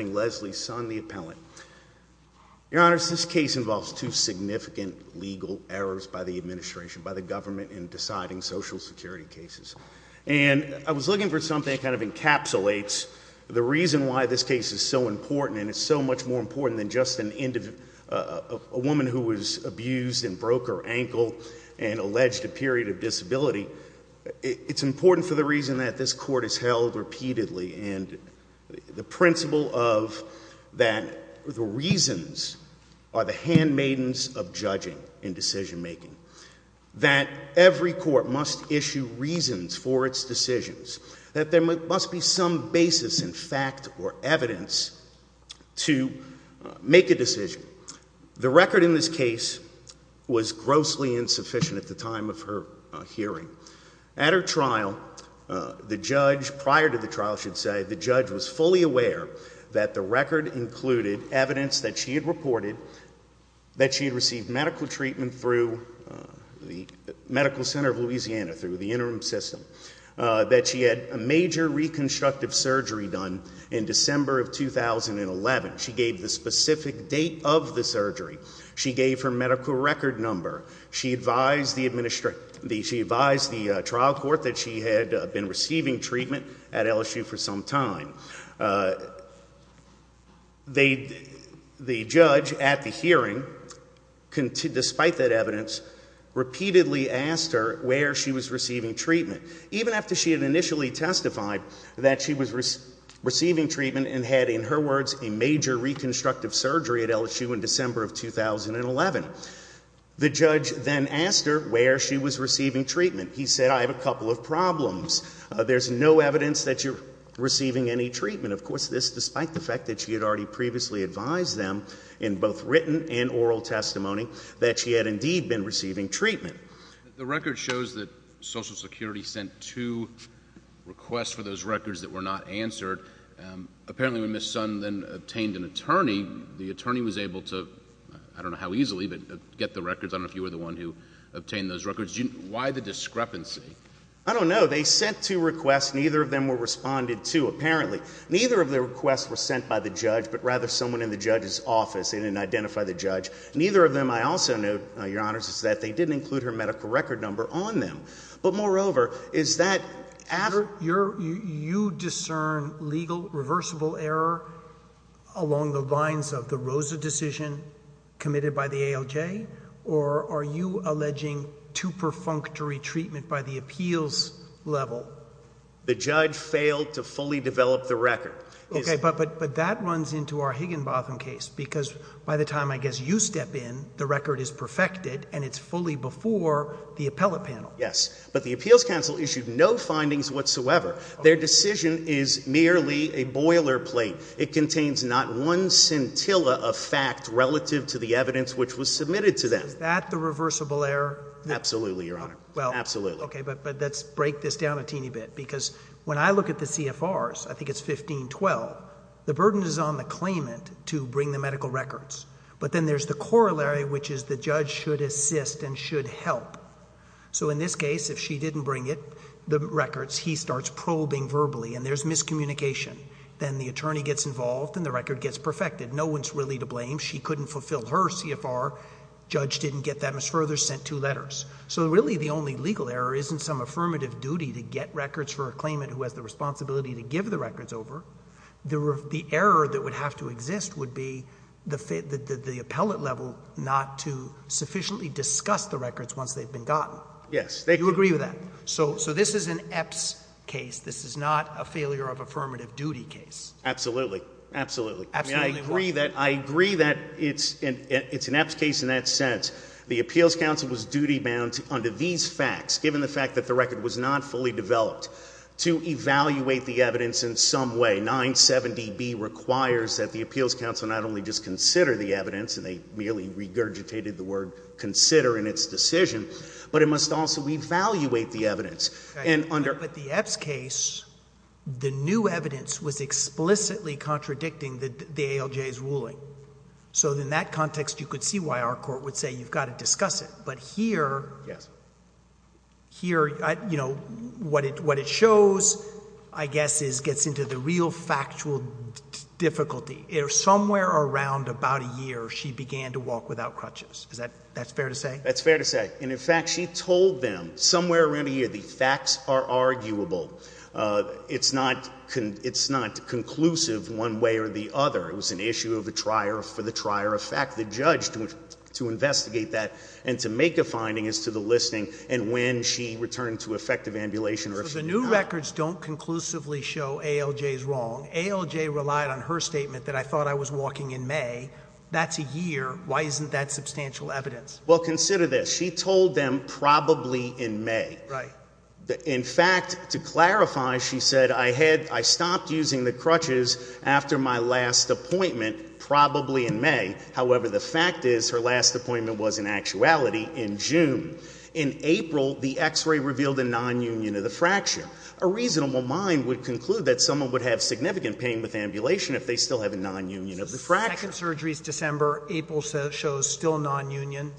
Leslie Sun, the appellant. Your Honor, this case involves two significant legal errors by the administration, by the government, in deciding social security cases. And I was looking for something that kind of encapsulates the reason why this case is so important and it's so much more important than just a woman who was abused and broke her ankle and alleged a period of disability. It's important for the reason that this court is held repeatedly and the principle of that the reasons are the handmaidens of judging in decision making. That every court must issue reasons for its decisions. That there must be some basis in fact or evidence to make a decision. The record in this case was grossly insufficient at the time. The judge was fully aware that the record included evidence that she had reported that she had received medical treatment through the Medical Center of Louisiana, through the interim system. That she had a major reconstructive surgery done in December of 2011. She gave the specific date of the surgery. She gave her medical record number. She advised the The judge at the hearing, despite that evidence, repeatedly asked her where she was receiving treatment. Even after she had initially testified that she was receiving treatment and had, in her words, a major reconstructive surgery at LSU in December of 2011. The judge then asked her where she was receiving treatment. He said, I have a couple of problems. There's no evidence that you're receiving any treatment. Of course, this despite the fact that she had already previously advised them in both written and oral testimony that she had indeed been receiving treatment. The record shows that Social Security sent two requests for those records that were not answered. Apparently when Ms. Sonn then obtained an attorney, the attorney was able to, I don't know how easily, but get the records. I don't know if you were the one who obtained those records. Why the discrepancy? I don't know. They sent two requests. Neither of them were responded to, apparently. Neither of the requests were sent by the judge, but rather someone in the judge's office. They didn't identify the judge. Neither of them, I also note, your honors, is that they didn't include her medical record number on them. But moreover, is that... You discern legal reversible error along the lines of the Rosa decision committed by the ALJ, or are you alleging too perfunctory treatment by the appeals level? The judge failed to fully develop the record. Okay, but that runs into our Higginbotham case, because by the time I guess you step in, the record is perfected and it's fully before the appellate panel. Yes, but the appeals counsel issued no findings whatsoever. Their decision is merely a boiler plate. It contains not one scintilla of fact relative to the evidence which was submitted to them. Is that the reversible error? Absolutely, your honor. Absolutely. Okay, but let's break this down a teeny bit, because when I look at the CFRs, I think it's 1512, the burden is on the claimant to bring the medical records. But then there's the corollary, which is the judge should assist and should help. So in this case, if she didn't bring it, the records, he starts probing verbally and there's miscommunication. Then the attorney gets involved and the record gets perfected. No one's really to blame. She couldn't fulfill her CFR. Judge didn't get them as further, sent two letters. So really the only legal error isn't some affirmative duty to get records for a claimant who has the responsibility to give the records over. The error that would have to exist would be the appellate level not to sufficiently discuss the records once they've been gotten. Yes. Do you agree with that? So this is an EPS case. This is not a failure of affirmative duty case. Absolutely. Absolutely. I agree that it's an EPS case in that sense. The appeals counsel was duty bound under these facts, given the fact that the record was not fully developed, to evaluate the evidence in some way. 970B requires that the appeals counsel not only just consider the evidence, and they merely regurgitated the word consider in its decision, but it must also evaluate the evidence. But the EPS case, the new evidence was explicitly contradicting the ALJ's ruling. So in that context, you could see why our court would say you've got to discuss it. But here, what it shows, I guess, gets into the real factual difficulty. Somewhere around about a year, she began to walk without crutches. That's fair to say. That's fair to say. And in fact, she told them somewhere around a year, the facts are arguable. It's not conclusive one way or the other. It was an issue of a trier for the trier effect. The judge, to investigate that and to make a finding as to the listing, and when she returned to effective ambulation. So the new records don't conclusively show ALJ's wrong. ALJ relied on her statement that I thought I was walking in May. That's a year. Why isn't that substantial evidence? Well, consider this. She told them probably in May. In fact, to clarify, she said, I stopped using the crutches after my last appointment, probably in May. However, the fact is her last appointment was in actuality in June. In April, the x-ray revealed a nonunion of the fracture. A reasonable mind would conclude that someone would have significant pain with nonunion.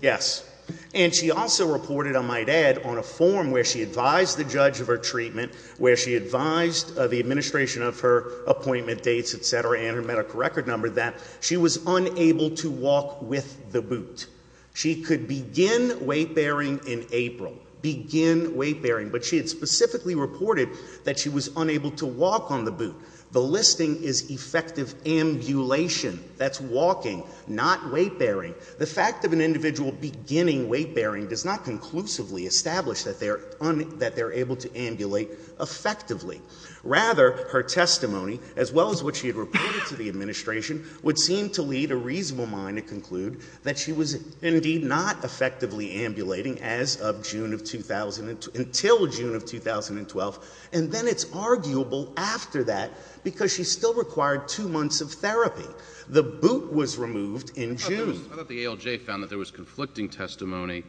Yes. And she also reported, I might add, on a form where she advised the judge of her treatment, where she advised the administration of her appointment dates, etc., and her medical record number, that she was unable to walk with the boot. She could begin weight bearing in April, begin weight bearing, but she had specifically reported that she was unable to walk on the boot. The listing is effective ambulation. That's walking, not weight bearing. The fact of an individual beginning weight bearing does not conclusively establish that they're able to ambulate effectively. Rather, her testimony, as well as what she had reported to the administration, would seem to lead a reasonable mind to conclude that she was indeed not effectively ambulating as of June of 2012, until June of 2012, and then it's arguable after that because she still required two months of therapy. The boot was removed in June. I thought the ALJ found that there was conflicting testimony.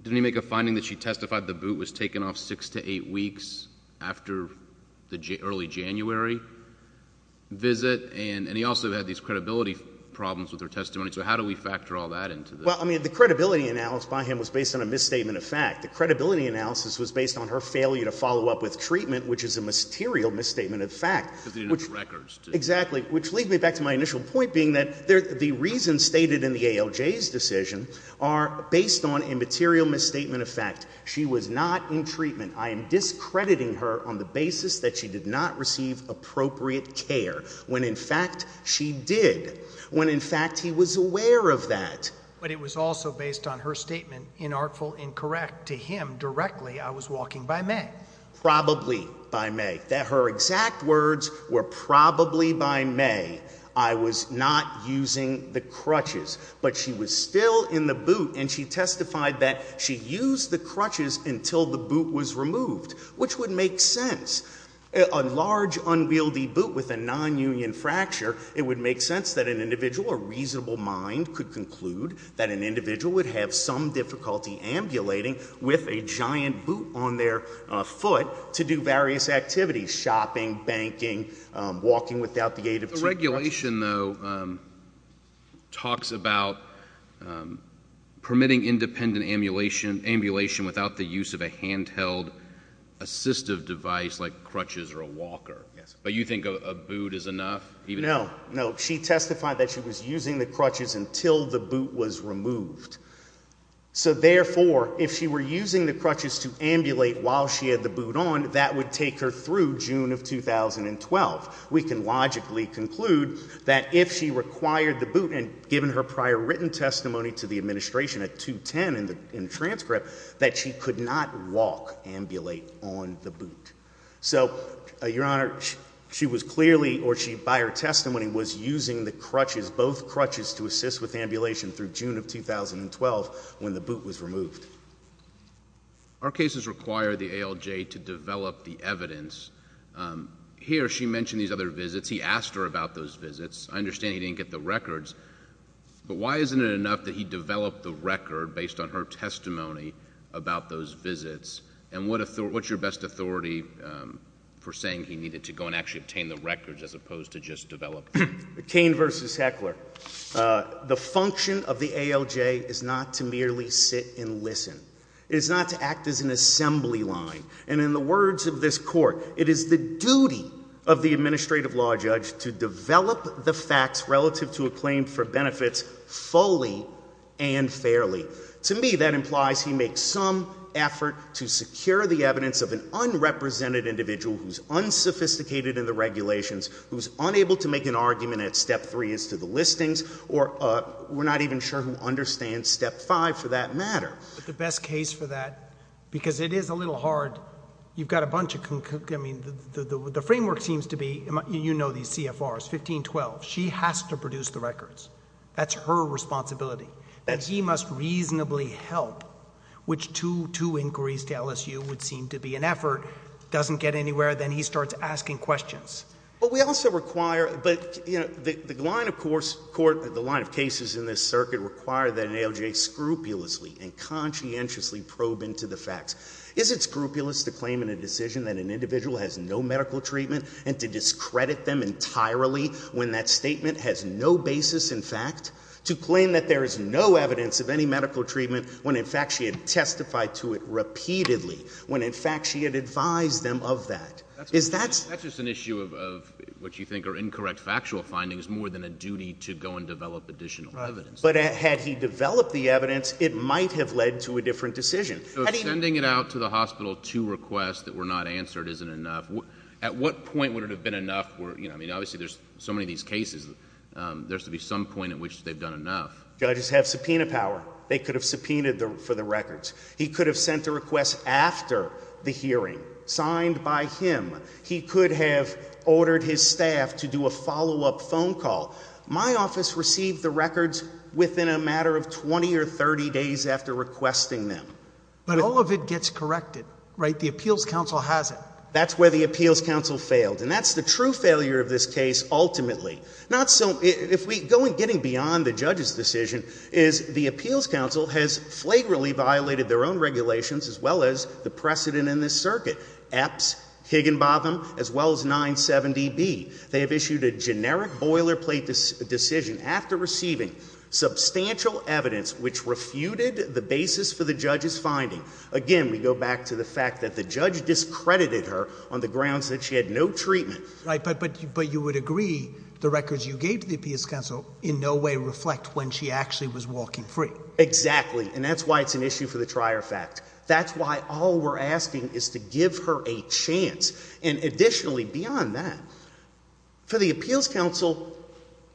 Did he make a finding that she testified the boot was taken off six to eight weeks after the early January visit? And he also had these credibility problems with her testimony. So how do we factor all that into this? Well, I mean, the credibility analysis by him was based on a misstatement of fact. The credibility analysis was based on her failure to follow up with treatment, which is a material misstatement of fact. Because they didn't have the records. Exactly. Which leads me back to my initial point, being that the reasons stated in the ALJ's decision are based on a material misstatement of fact. She was not in treatment. I am discrediting her on the basis that she did not receive appropriate care, when in fact she did, when in fact he was aware of that. But it was also based on her statement, inartful, incorrect, to him directly, I was walking by May. Probably by May. Her exact words were probably by May. I was not using the crutches. But she was still in the boot and she testified that she used the crutches until the boot was removed, which would make sense. A large, unwieldy boot with a non-union fracture, it would make sense that an individual, a reasonable mind, could conclude that an individual would have some difficulty ambulating with a giant boot on their foot to do various activities, shopping, banking, walking without the aid of two crutches. The regulation, though, talks about permitting independent ambulation without the use of a handheld assistive device like crutches or a wheelchair. She testified that she was using the crutches until the boot was removed. So therefore, if she were using the crutches to ambulate while she had the boot on, that would take her through June of 2012. We can logically conclude that if she required the boot, and given her prior written testimony to the administration at 210 in the transcript, that she could not walk, ambulate, on the boot. So, Your Honor, she was clearly, or by her testimony, was using the crutches, both crutches, to assist with ambulation through June of 2012 when the boot was removed. Our cases require the ALJ to develop the evidence. Here, she mentioned these other visits. He asked her about those visits. I understand he didn't get the records, but why isn't it enough that he developed the record based on her testimony about those visits? And what's your best authority for saying he needed to go and actually obtain the records as opposed to just develop them? The function of the ALJ is not to merely sit and listen. It is not to act as an assembly line. And in the words of this Court, it is the duty of the administrative law judge to develop the facts relative to a claim for benefits fully and fairly. To me, that implies he makes some effort to secure the evidence of an unrepresented individual who's unsophisticated in the regulations, who's unable to make an argument at step three as to the listings, or we're not even sure who understands step five for that matter. But the best case for that, because it is a little hard, you've got a bunch of, I mean, the framework seems to be, you know these CFRs, 1512. She has to produce the records. That's her responsibility. And he must reasonably help, which two inquiries to LSU would seem to be an effort, doesn't get anywhere, then he starts asking questions. But we also require, but you know, the line of course, the line of cases in this circuit require that an ALJ scrupulously and conscientiously probe into the facts. Is it scrupulous to claim in a decision that an individual has no medical treatment and to discredit them entirely when that statement has no basis in fact, to claim that there is no evidence of any medical treatment when in fact she had testified to it repeatedly, when in fact she had advised them of that? Is that... That's just an issue of what you think are incorrect factual findings more than a duty to go and develop additional evidence. But had he developed the evidence, it might have led to a different decision. Sending it out to the hospital to request that we're not answered isn't enough. At what point would it have been enough where, you know, I mean, obviously there's so many of these cases, there's to be some point at which they've done enough. Judges have subpoena power. They could have subpoenaed for the records. He could have sent a request after the hearing, signed by him. He could have ordered his staff to do a follow-up phone call. My office received the records within a matter of 20 or 30 days after requesting them. But all of it gets corrected, right? The appeals council has it. That's where the appeals council failed. And that's the true failure of this case ultimately. Not so... If we... Going... Getting beyond the judge's decision is the appeals council has flagrantly violated their own regulations as well as the precedent in this circuit. Epps, Higginbotham, as well as 970B. They have issued a generic boilerplate decision after receiving substantial evidence which refuted the basis for the judge's finding. Again, we go back to the fact that the judge discredited her on the grounds that she had no treatment. Right, but you would agree the records you gave to the appeals council in no way reflect when she actually was walking free. Exactly. And that's why it's an issue for the trier fact. That's why all we're asking is to give her a chance. And additionally, beyond that, for the appeals council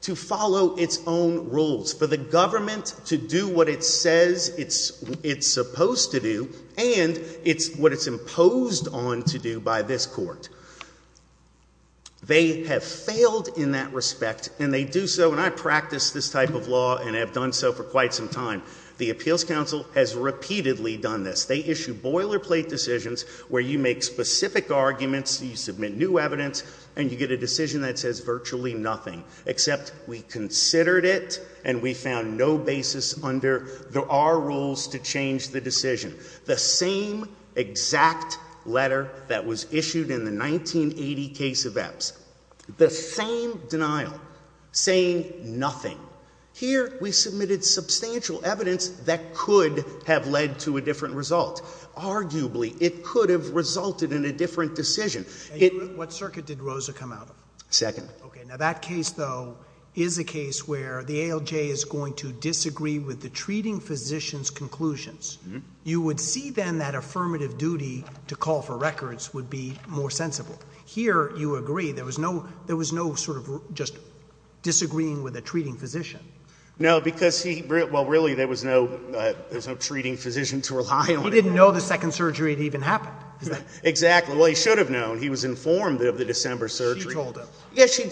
to follow its own rules, for the government to do what it says it's supposed to do and what it's imposed on to do by this court. They have failed in that respect and they do so, and I practice this type of law and have done so for quite some time. The appeals council has repeatedly done this. They issue boilerplate decisions where you make specific arguments, you submit new evidence, and you get a decision that says virtually nothing, except we considered it and we found no basis under our rules to change the decision. The same exact letter that was issued in the 1980 case of Epps. The same denial, saying nothing. Here we submitted substantial evidence that could have led to a different result. Arguably, it could have resulted in a different decision. What circuit did Rosa come out of? Second. That case, though, is a case where the ALJ is going to disagree with the treating physician's conclusions. You would see, then, that affirmative duty to call for records would be more sensible. Here, you agree. There was no sort of just disagreeing with a treating physician. No, because he, well, really, there was no treating physician to rely on. He didn't know the second surgery had even happened. Exactly. Well, he should have known. He was informed of the December surgery. She told him.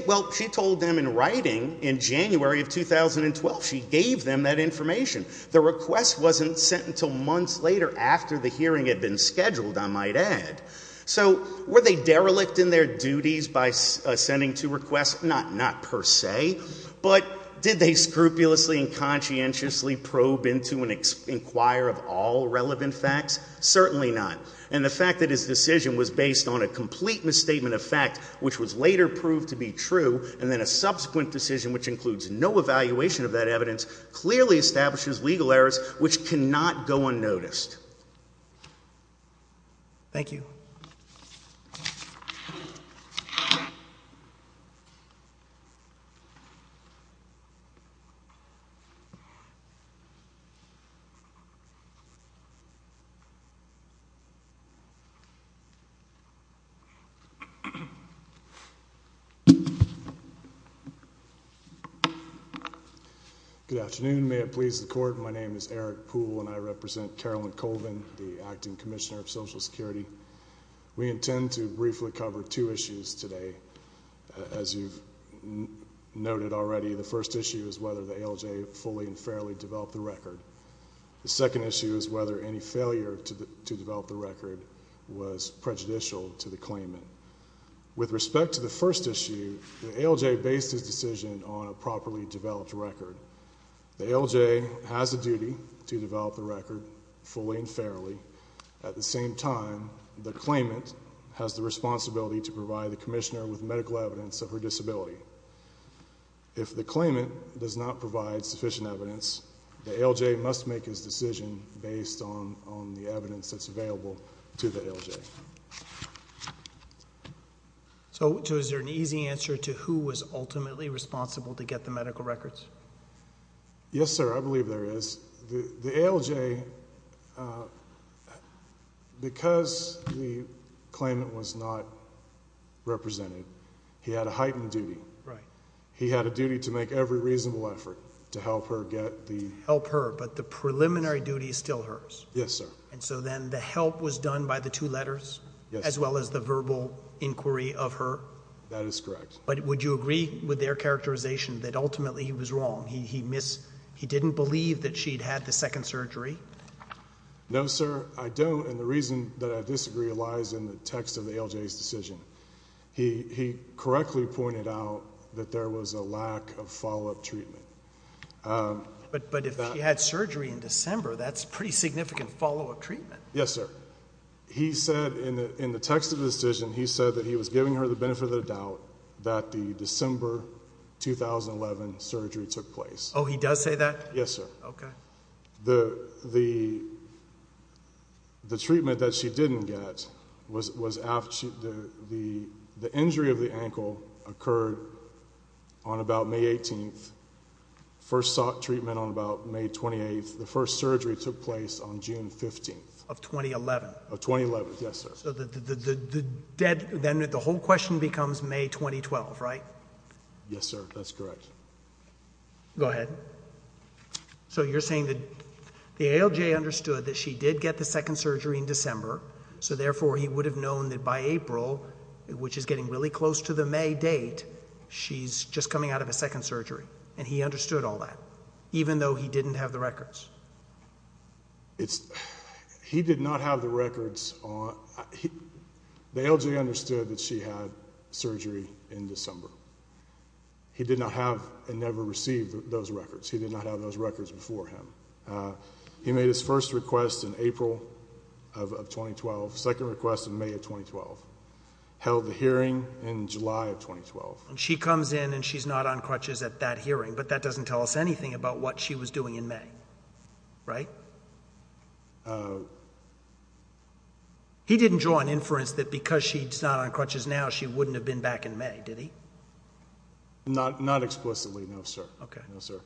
Well, she told him in writing in January of 2012. She gave them that information. The request wasn't sent until months later after the hearing had been scheduled, I might add. So were they derelict in their duties by sending two requests? Not per se, but did they scrupulously and conscientiously probe into and inquire of all relevant facts? Certainly not. And the fact that his decision was based on a complete misstatement of fact, which was later proved to be true, and then a subsequent decision which includes no evaluation of that evidence, clearly establishes legal errors which cannot go unnoticed. Thank you. Good afternoon. May it please the Court, my name is Eric Poole and I represent Carolyn Colvin, the Acting Commissioner of Social Security. We intend to briefly cover two issues today. As you've noted already, the first issue is whether the ALJ fully and fairly developed the record. The second issue is whether any failure to develop the record was prejudicial to the claimant. With respect to the first issue, the ALJ based its decision on a properly developed record. The ALJ has a duty to develop the record fully and fairly. At the same time, the claimant has the responsibility to provide the Commissioner with medical evidence of her decision based on the evidence that's available to the ALJ. So is there an easy answer to who was ultimately responsible to get the medical records? Yes, sir, I believe there is. The ALJ, because the claimant was not represented, he had a heightened duty. He had a duty to make every reasonable effort to help her get the... Help her, but the preliminary duty is still hers? Yes, sir. And so then the help was done by the two letters as well as the verbal inquiry of her? That is correct. But would you agree with their characterization that ultimately he was wrong? He didn't believe that she'd had the second surgery? No, sir, I don't. And the reason that I disagree lies in the text of the ALJ's decision. He correctly pointed out that there was a lack of follow-up treatment. But if she had surgery in December, that's pretty significant follow-up treatment. Yes, sir. He said in the text of the decision, he said that he was giving her the benefit of the doubt that the December 2011 surgery took place. Oh, he does say that? Yes, sir. Okay. The treatment that she didn't get was after the injury of the ankle occurred on about May 18th. First sought treatment on about May 28th. The first surgery took place on June 15th. Of 2011? Of 2011, yes, sir. So then the whole question becomes May 2012, right? Yes, sir, that's correct. Go ahead. So you're saying that the ALJ understood that she did get the second surgery in December, so therefore he would have known that by April, which is getting really close to the May date, she's just coming out of a second surgery, and he understood all that, even though he didn't have the records? He did not have the records. The ALJ understood that she had surgery in December. He did not have and never received those records. He did not have those records before him. He made his first request in April of 2012, second request in May of 2012, held the hearing in July of 2012. She comes in and she's not on crutches at that hearing, but that doesn't tell us anything about what she was doing in May, right? No, sir. He didn't draw an inference that because she's not on crutches now, she wouldn't have been back in May, did he? Not explicitly, no, sir. No, sir.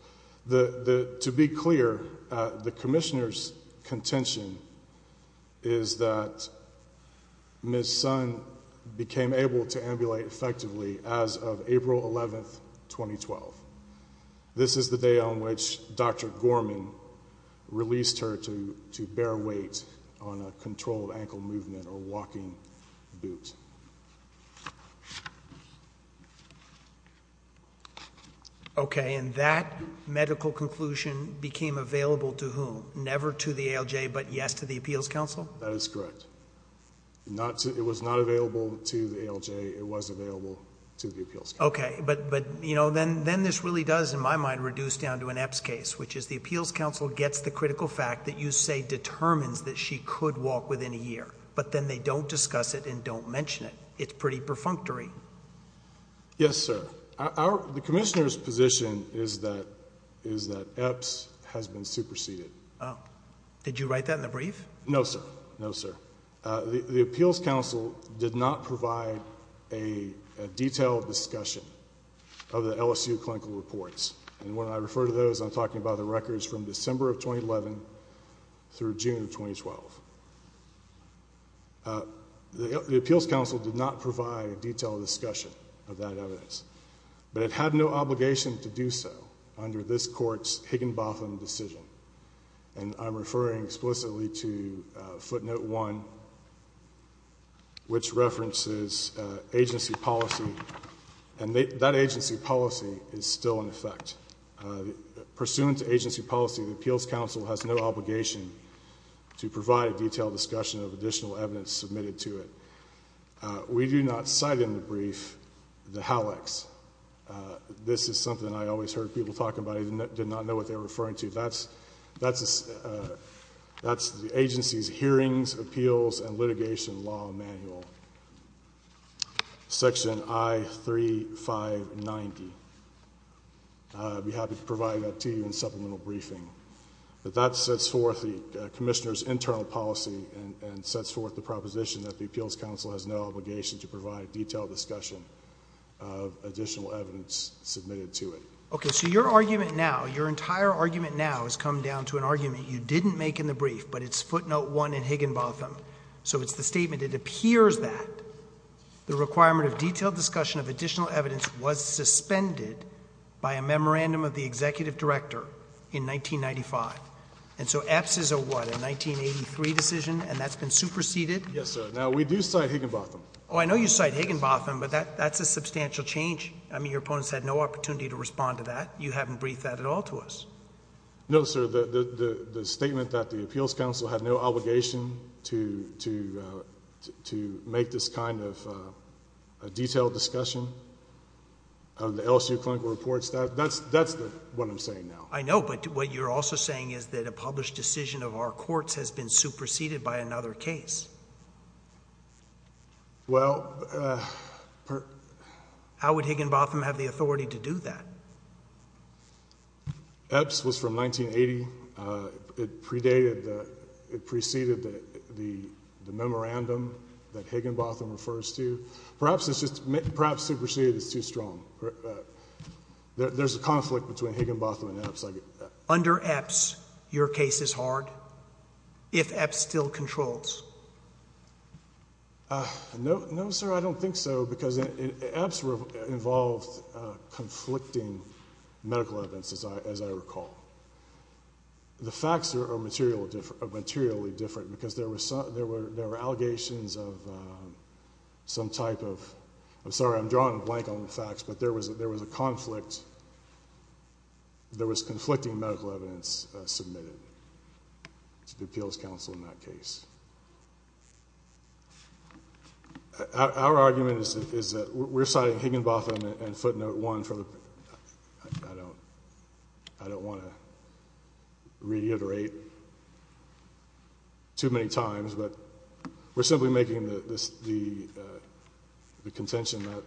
To be clear, the commissioner's contention is that Ms. Sun became able to ambulate effectively as of April 11, 2012. This is the day on which Dr. Gorman released her to bear weight on a controlled ankle movement or walking boot. Okay, and that medical conclusion became available to whom? Never to the ALJ, but yes to the Appeals Council? That is correct. It was not available to the ALJ. It was available to the Appeals Council. Okay, but then this really does, in my mind, reduce down to an EPS case, which is the Appeals Council gets the critical fact that you say determines that she could walk within a year, but then they don't discuss it and don't mention it. It's pretty perfunctory. Yes, sir. The commissioner's position is that EPS has been superseded. Did you write that in the brief? No, sir. No, sir. The Appeals Council did not provide a detailed discussion of the LSU clinical reports, and when I refer to those, I'm talking about the records from December of 2011 through June of 2012. The Appeals Council did not provide a detailed discussion of that evidence, but it had no obligation to do so under this Court's Higginbotham decision, and I'm referring explicitly to footnote one, which references agency policy, and that agency policy is still in effect. Pursuant to agency policy, the Appeals Council has no obligation to provide a detailed discussion of additional evidence submitted to it. We do not cite in the brief the HALEX. This is something I always heard people talking about. I did not know what they were referring to. That's the agency's hearings, appeals, and litigation law manual, section I3590. I'd be happy to provide that to you in supplemental briefing. But that sets forth the commissioner's internal policy and sets forth the proposition that the Appeals Council has no obligation to provide a detailed discussion of additional evidence submitted to it. Okay, so your argument now, your entire argument now, has come down to an argument you didn't make in the brief, but it's footnote one in Higginbotham. So it's the statement, it appears that the requirement of detailed discussion of additional evidence was suspended by a memorandum of the executive director in 1995. And so EPS is a what, a 1983 decision, and that's been superseded? Yes, sir. Now, we do cite Higginbotham. Oh, I know you cite Higginbotham, but that's a substantial change. I mean, your opponents had no opportunity to respond to that. You haven't briefed that at all to us. No, sir. The statement that the Appeals Council had no obligation to make this kind of detailed discussion of the LSU clinical reports, that's what I'm saying now. I know, but what you're also saying is that a published decision of our courts has been superseded by another case. Well... How would Higginbotham have the authority to do that? EPS was from 1980. It preceded the memorandum that Higginbotham refers to. Perhaps superseded is too strong. There's a conflict between Higginbotham and EPS. Under EPS, your case is hard? If EPS still controls? No, sir, I don't think so, because EPS involved conflicting medical events, as I recall. The facts are materially different, because there were allegations of some type of... I'm sorry, I'm drawing a blank on the facts, but there was a conflict. There was conflicting medical evidence submitted to the Appeals Council in that case. Our argument is that we're citing Higginbotham and footnote one for the... I don't want to reiterate too many times, but we're simply making the contention that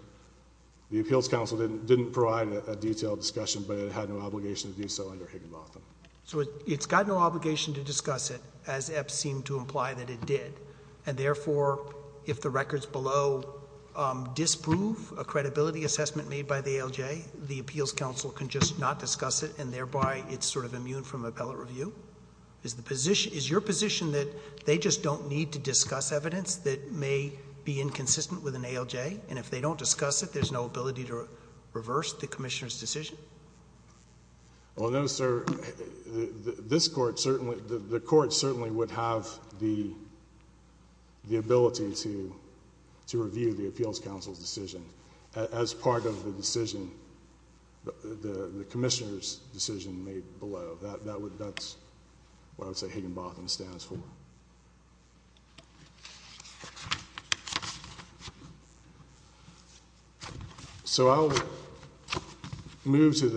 the Appeals Council didn't provide a detailed discussion, but it had no obligation to do so under Higginbotham. So it's got no obligation to discuss it, as EPS seemed to imply that it did. And therefore, if the records below disprove a credibility assessment made by the ALJ, the Appeals Council can just not discuss it, and thereby it's sort of immune from appellate review? Is your position that they just don't need to discuss evidence that may be inconsistent with an ALJ, and if they don't discuss it, there's no ability to reverse the Commissioner's decision? Well, no, sir. The Court certainly would have the ability to review the Appeals Council's decision as part of the decision, the Commissioner's decision made below. That's what I would say Higginbotham stands for. So I'll move to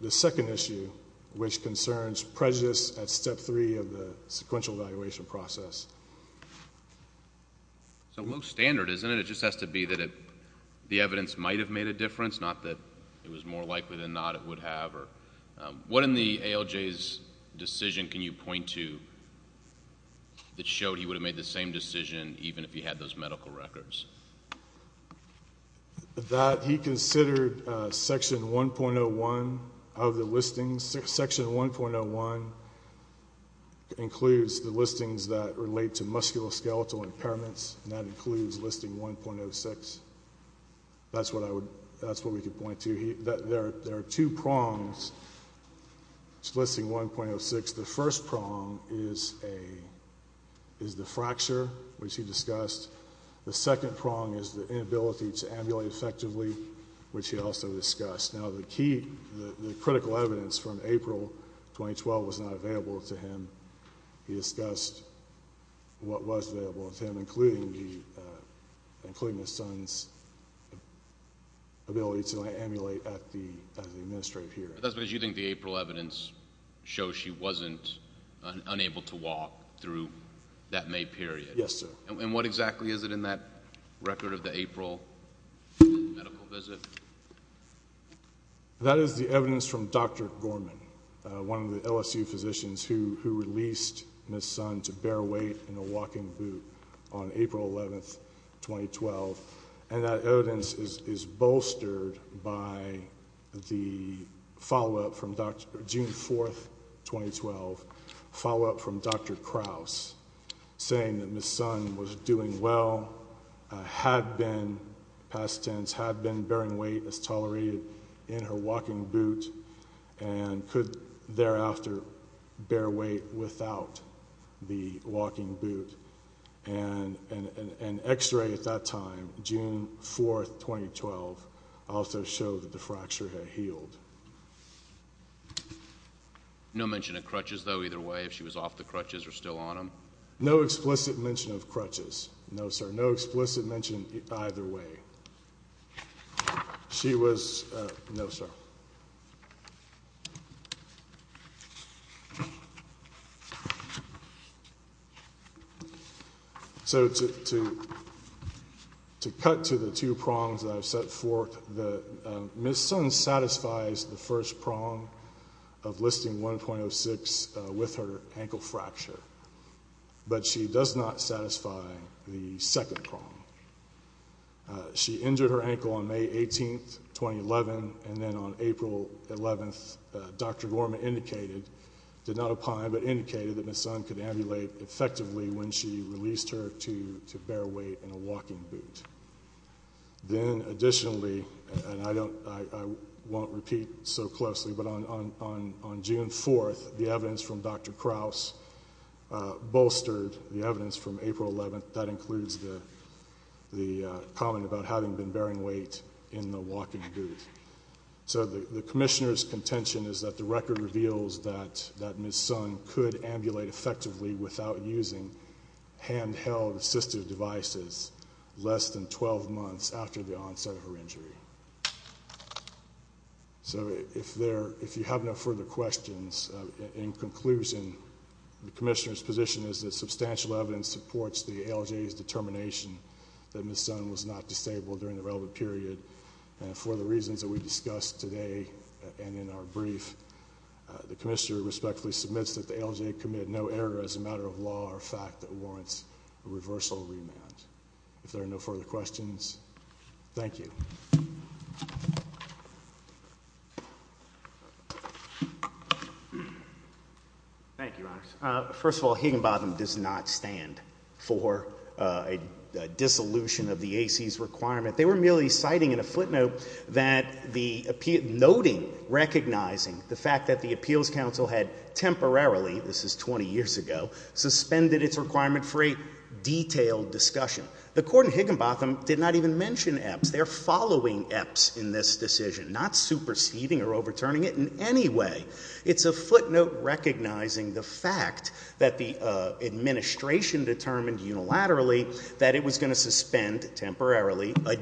the second issue, which concerns prejudice at step three of the sequential evaluation process. So it looks standard, isn't it? It just has to be that the evidence might have made a difference, not that it was more likely than not it would have. What in the ALJ's decision can you point to that showed he would have made the same decision even if he had those medical records? That he considered section 1.01 of the listings. Section 1.01 includes the listings that relate to musculoskeletal impairments, and that includes listing 1.06. That's what we could point to. There are two prongs to listing 1.06. The first prong is the fracture, which he discussed. The second prong is the inability to ambulate effectively, which he also discussed. Now, the critical evidence from April 2012 was not available to him. He discussed what was available to him, including his son's ability to amulate at the administrative hearing. That's because you think the April evidence shows she wasn't unable to walk through that May period. Yes, sir. And what exactly is it in that record of the April medical visit? That is the evidence from Dr. Gorman, one of the LSU physicians who released Ms. Sun to bear weight in a walking boot on April 11, 2012. And that evidence is bolstered by the follow-up from June 4, 2012, follow-up from Dr. Krause, saying that Ms. Sun was doing well, had been, past tense, had been bearing weight as tolerated in her walking boot, and could thereafter bear weight without the walking boot. And an x-ray at that time, June 4, 2012, also showed that the fracture had healed. No mention of crutches, though, either way, if she was off the crutches or still on them? No explicit mention of crutches, no, sir. No explicit mention either way. She was, no, sir. So to cut to the two prongs that I've set forth, Ms. Sun satisfies the first prong of listing 1.06 with her ankle fracture, but she does not satisfy the second prong. She injured her ankle on May 18, 2011, and then on April 11, Dr. Gorman indicated, did not opine, but indicated that Ms. Sun could ambulate effectively when she released her to bear weight in a walking boot. Then, additionally, and I don't, I won't repeat so closely, but on June 4, the evidence from Dr. Krause bolstered the evidence from April 11, that includes the comment about having been bearing weight in the walking boot. So the Commissioner's contention is that the record reveals that Ms. Sun could ambulate effectively without using handheld assistive devices less than 12 months after the onset of her injury. So if there, if you have no further questions, in conclusion, the Commissioner's position is that substantial evidence supports the ALJ's determination that Ms. Sun was not disabled during the relevant period, and for the reasons that we discussed today and in our brief, the Commissioner respectfully submits that the ALJ committed no error as a matter of law or fact that warrants a reversal remand. If there are no further questions, thank you. Thank you, Your Honor. First of all, Higginbottom does not stand for a dissolution of the AC's requirement. They were merely citing in a footnote that the appeal, noting, recognizing the fact that the Appeals Council had temporarily, this is 20 years ago, suspended its requirement for a detailed discussion. The Court in Higginbottom did not even mention EPS. They're following EPS in this decision, not superseding or overturning it in any way. It's a footnote recognizing the fact that the administration determined unilaterally that it was going to suspend temporarily a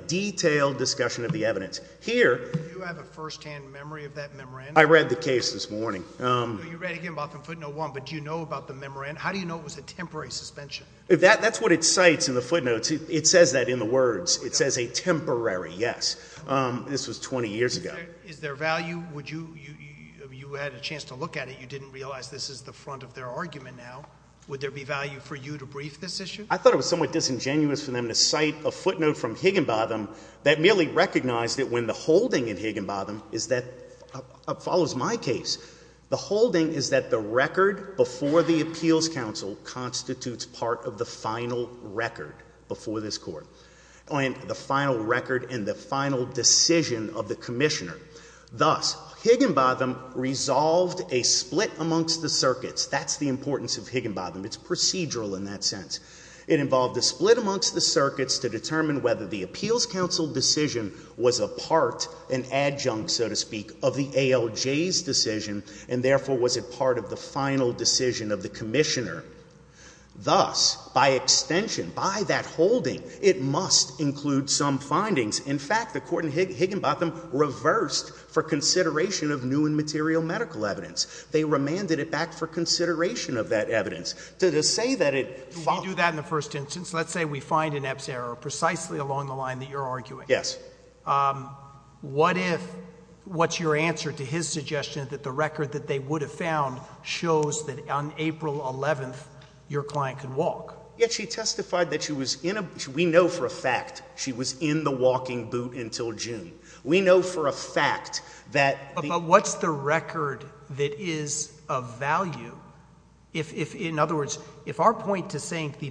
first-hand memory of that memorandum. I read the case this morning. You read again about the footnote one, but do you know about the memorandum? How do you know it was a temporary suspension? That's what it cites in the footnotes. It says that in the words. It says a temporary, yes. This was 20 years ago. Is there value? Would you, if you had a chance to look at it, you didn't realize this is the front of their argument now, would there be value for you to brief this issue? I thought it was somewhat disingenuous for them to cite a footnote from Higginbottom. It follows my case. The holding is that the record before the Appeals Council constitutes part of the final record before this Court. The final record and the final decision of the Commissioner. Thus, Higginbottom resolved a split amongst the circuits. That's the importance of Higginbottom. It's procedural in that sense. It involved a split amongst the circuits to an adjunct, so to speak, of the ALJ's decision, and therefore was it part of the final decision of the Commissioner. Thus, by extension, by that holding, it must include some findings. In fact, the Court in Higginbottom reversed for consideration of new and material medical evidence. They remanded it back for consideration of that evidence. To say that it— Do you do that in the first instance? Let's say we find an EBS error precisely along the Yes. What if—what's your answer to his suggestion that the record that they would have found shows that on April 11th your client could walk? Yet she testified that she was in a—we know for a fact she was in the walking boot until June. We know for a fact that— But what's the record that is of value if—in other words, if our point to saying to the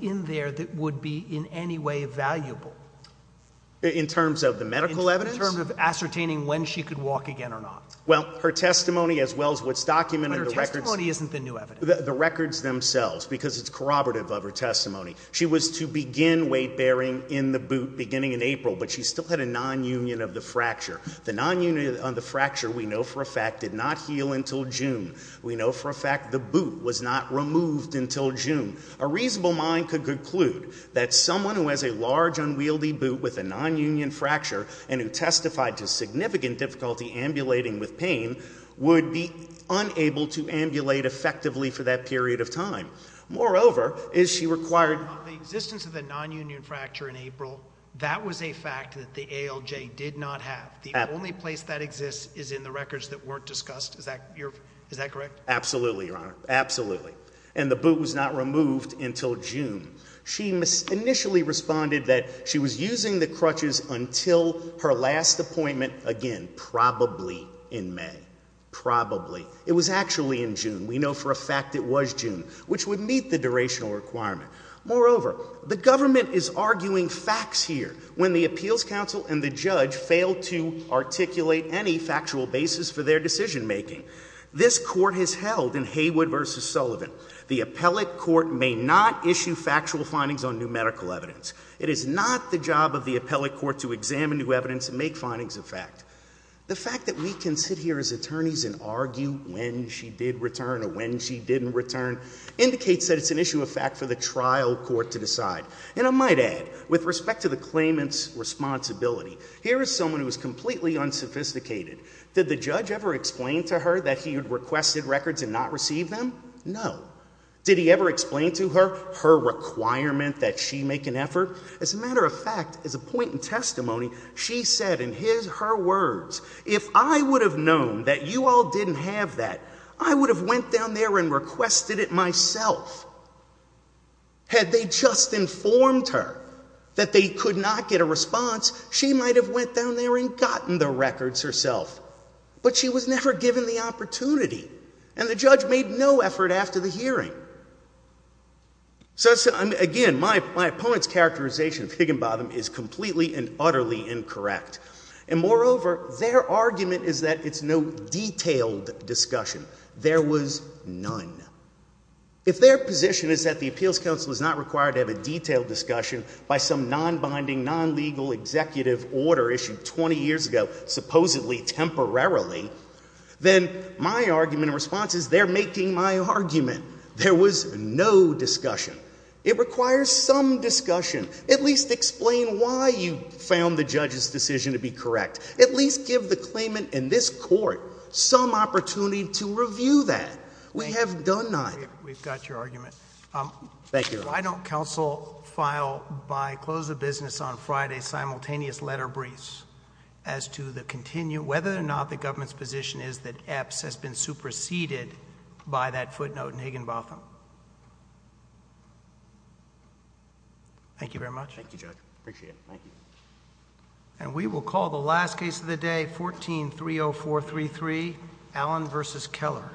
in there that would be in any way valuable? In terms of the medical evidence? In terms of ascertaining when she could walk again or not. Well, her testimony, as well as what's documented— But her testimony isn't the new evidence. The records themselves, because it's corroborative of her testimony. She was to begin weight-bearing in the boot beginning in April, but she still had a nonunion of the fracture. The nonunion of the fracture, we know for a fact, did not heal until June. We know for a fact the moved until June. A reasonable mind could conclude that someone who has a large unwieldy boot with a nonunion fracture and who testified to significant difficulty ambulating with pain would be unable to ambulate effectively for that period of time. Moreover, is she required— On the existence of the nonunion fracture in April, that was a fact that the ALJ did not have. The only place that exists is in the records that weren't discussed. Is that your—is that correct? Absolutely, Your Honor. Absolutely. And the boot was not removed until June. She initially responded that she was using the crutches until her last appointment again, probably in May. Probably. It was actually in June. We know for a fact it was June, which would meet the durational requirement. Moreover, the government is arguing facts here when the appeals counsel and the judge failed to articulate any factual basis for their decision making. This court has held in Haywood v. Sullivan, the appellate court may not issue factual findings on numerical evidence. It is not the job of the appellate court to examine new evidence and make findings of fact. The fact that we can sit here as attorneys and argue when she did return or when she didn't return indicates that it's an issue of fact for the trial court to decide. And I might add, with respect to the claimant's responsibility, here is someone who completely unsophisticated. Did the judge ever explain to her that he had requested records and not receive them? No. Did he ever explain to her her requirement that she make an effort? As a matter of fact, as a point in testimony, she said in his—her words, if I would have known that you all didn't have that, I would have went down there and requested it myself. Had they just informed her that they could not get a response, she might have went down there and gotten the records herself. But she was never given the opportunity, and the judge made no effort after the hearing. So again, my opponent's characterization of Higginbotham is completely and utterly incorrect. And moreover, their argument is that it's no detailed discussion. There was none. If their position is that the Appeals Council is not required to have a detailed discussion by some non-binding, non-legal executive order issued 20 years ago, supposedly temporarily, then my argument and response is they're making my argument. There was no discussion. It requires some discussion. At least explain why you found the judge's decision to be correct. At least give the claimant and this Court some opportunity to review that. We have done not. We've got your argument. Why don't counsel file, by close of business on Friday, simultaneous letter briefs as to whether or not the government's position is that Epps has been superseded by that footnote in Higginbotham? Thank you very much. Thank you, Judge. Appreciate it. Thank you. And we will call the last case of the day, 14-30433, Allen v. Keller.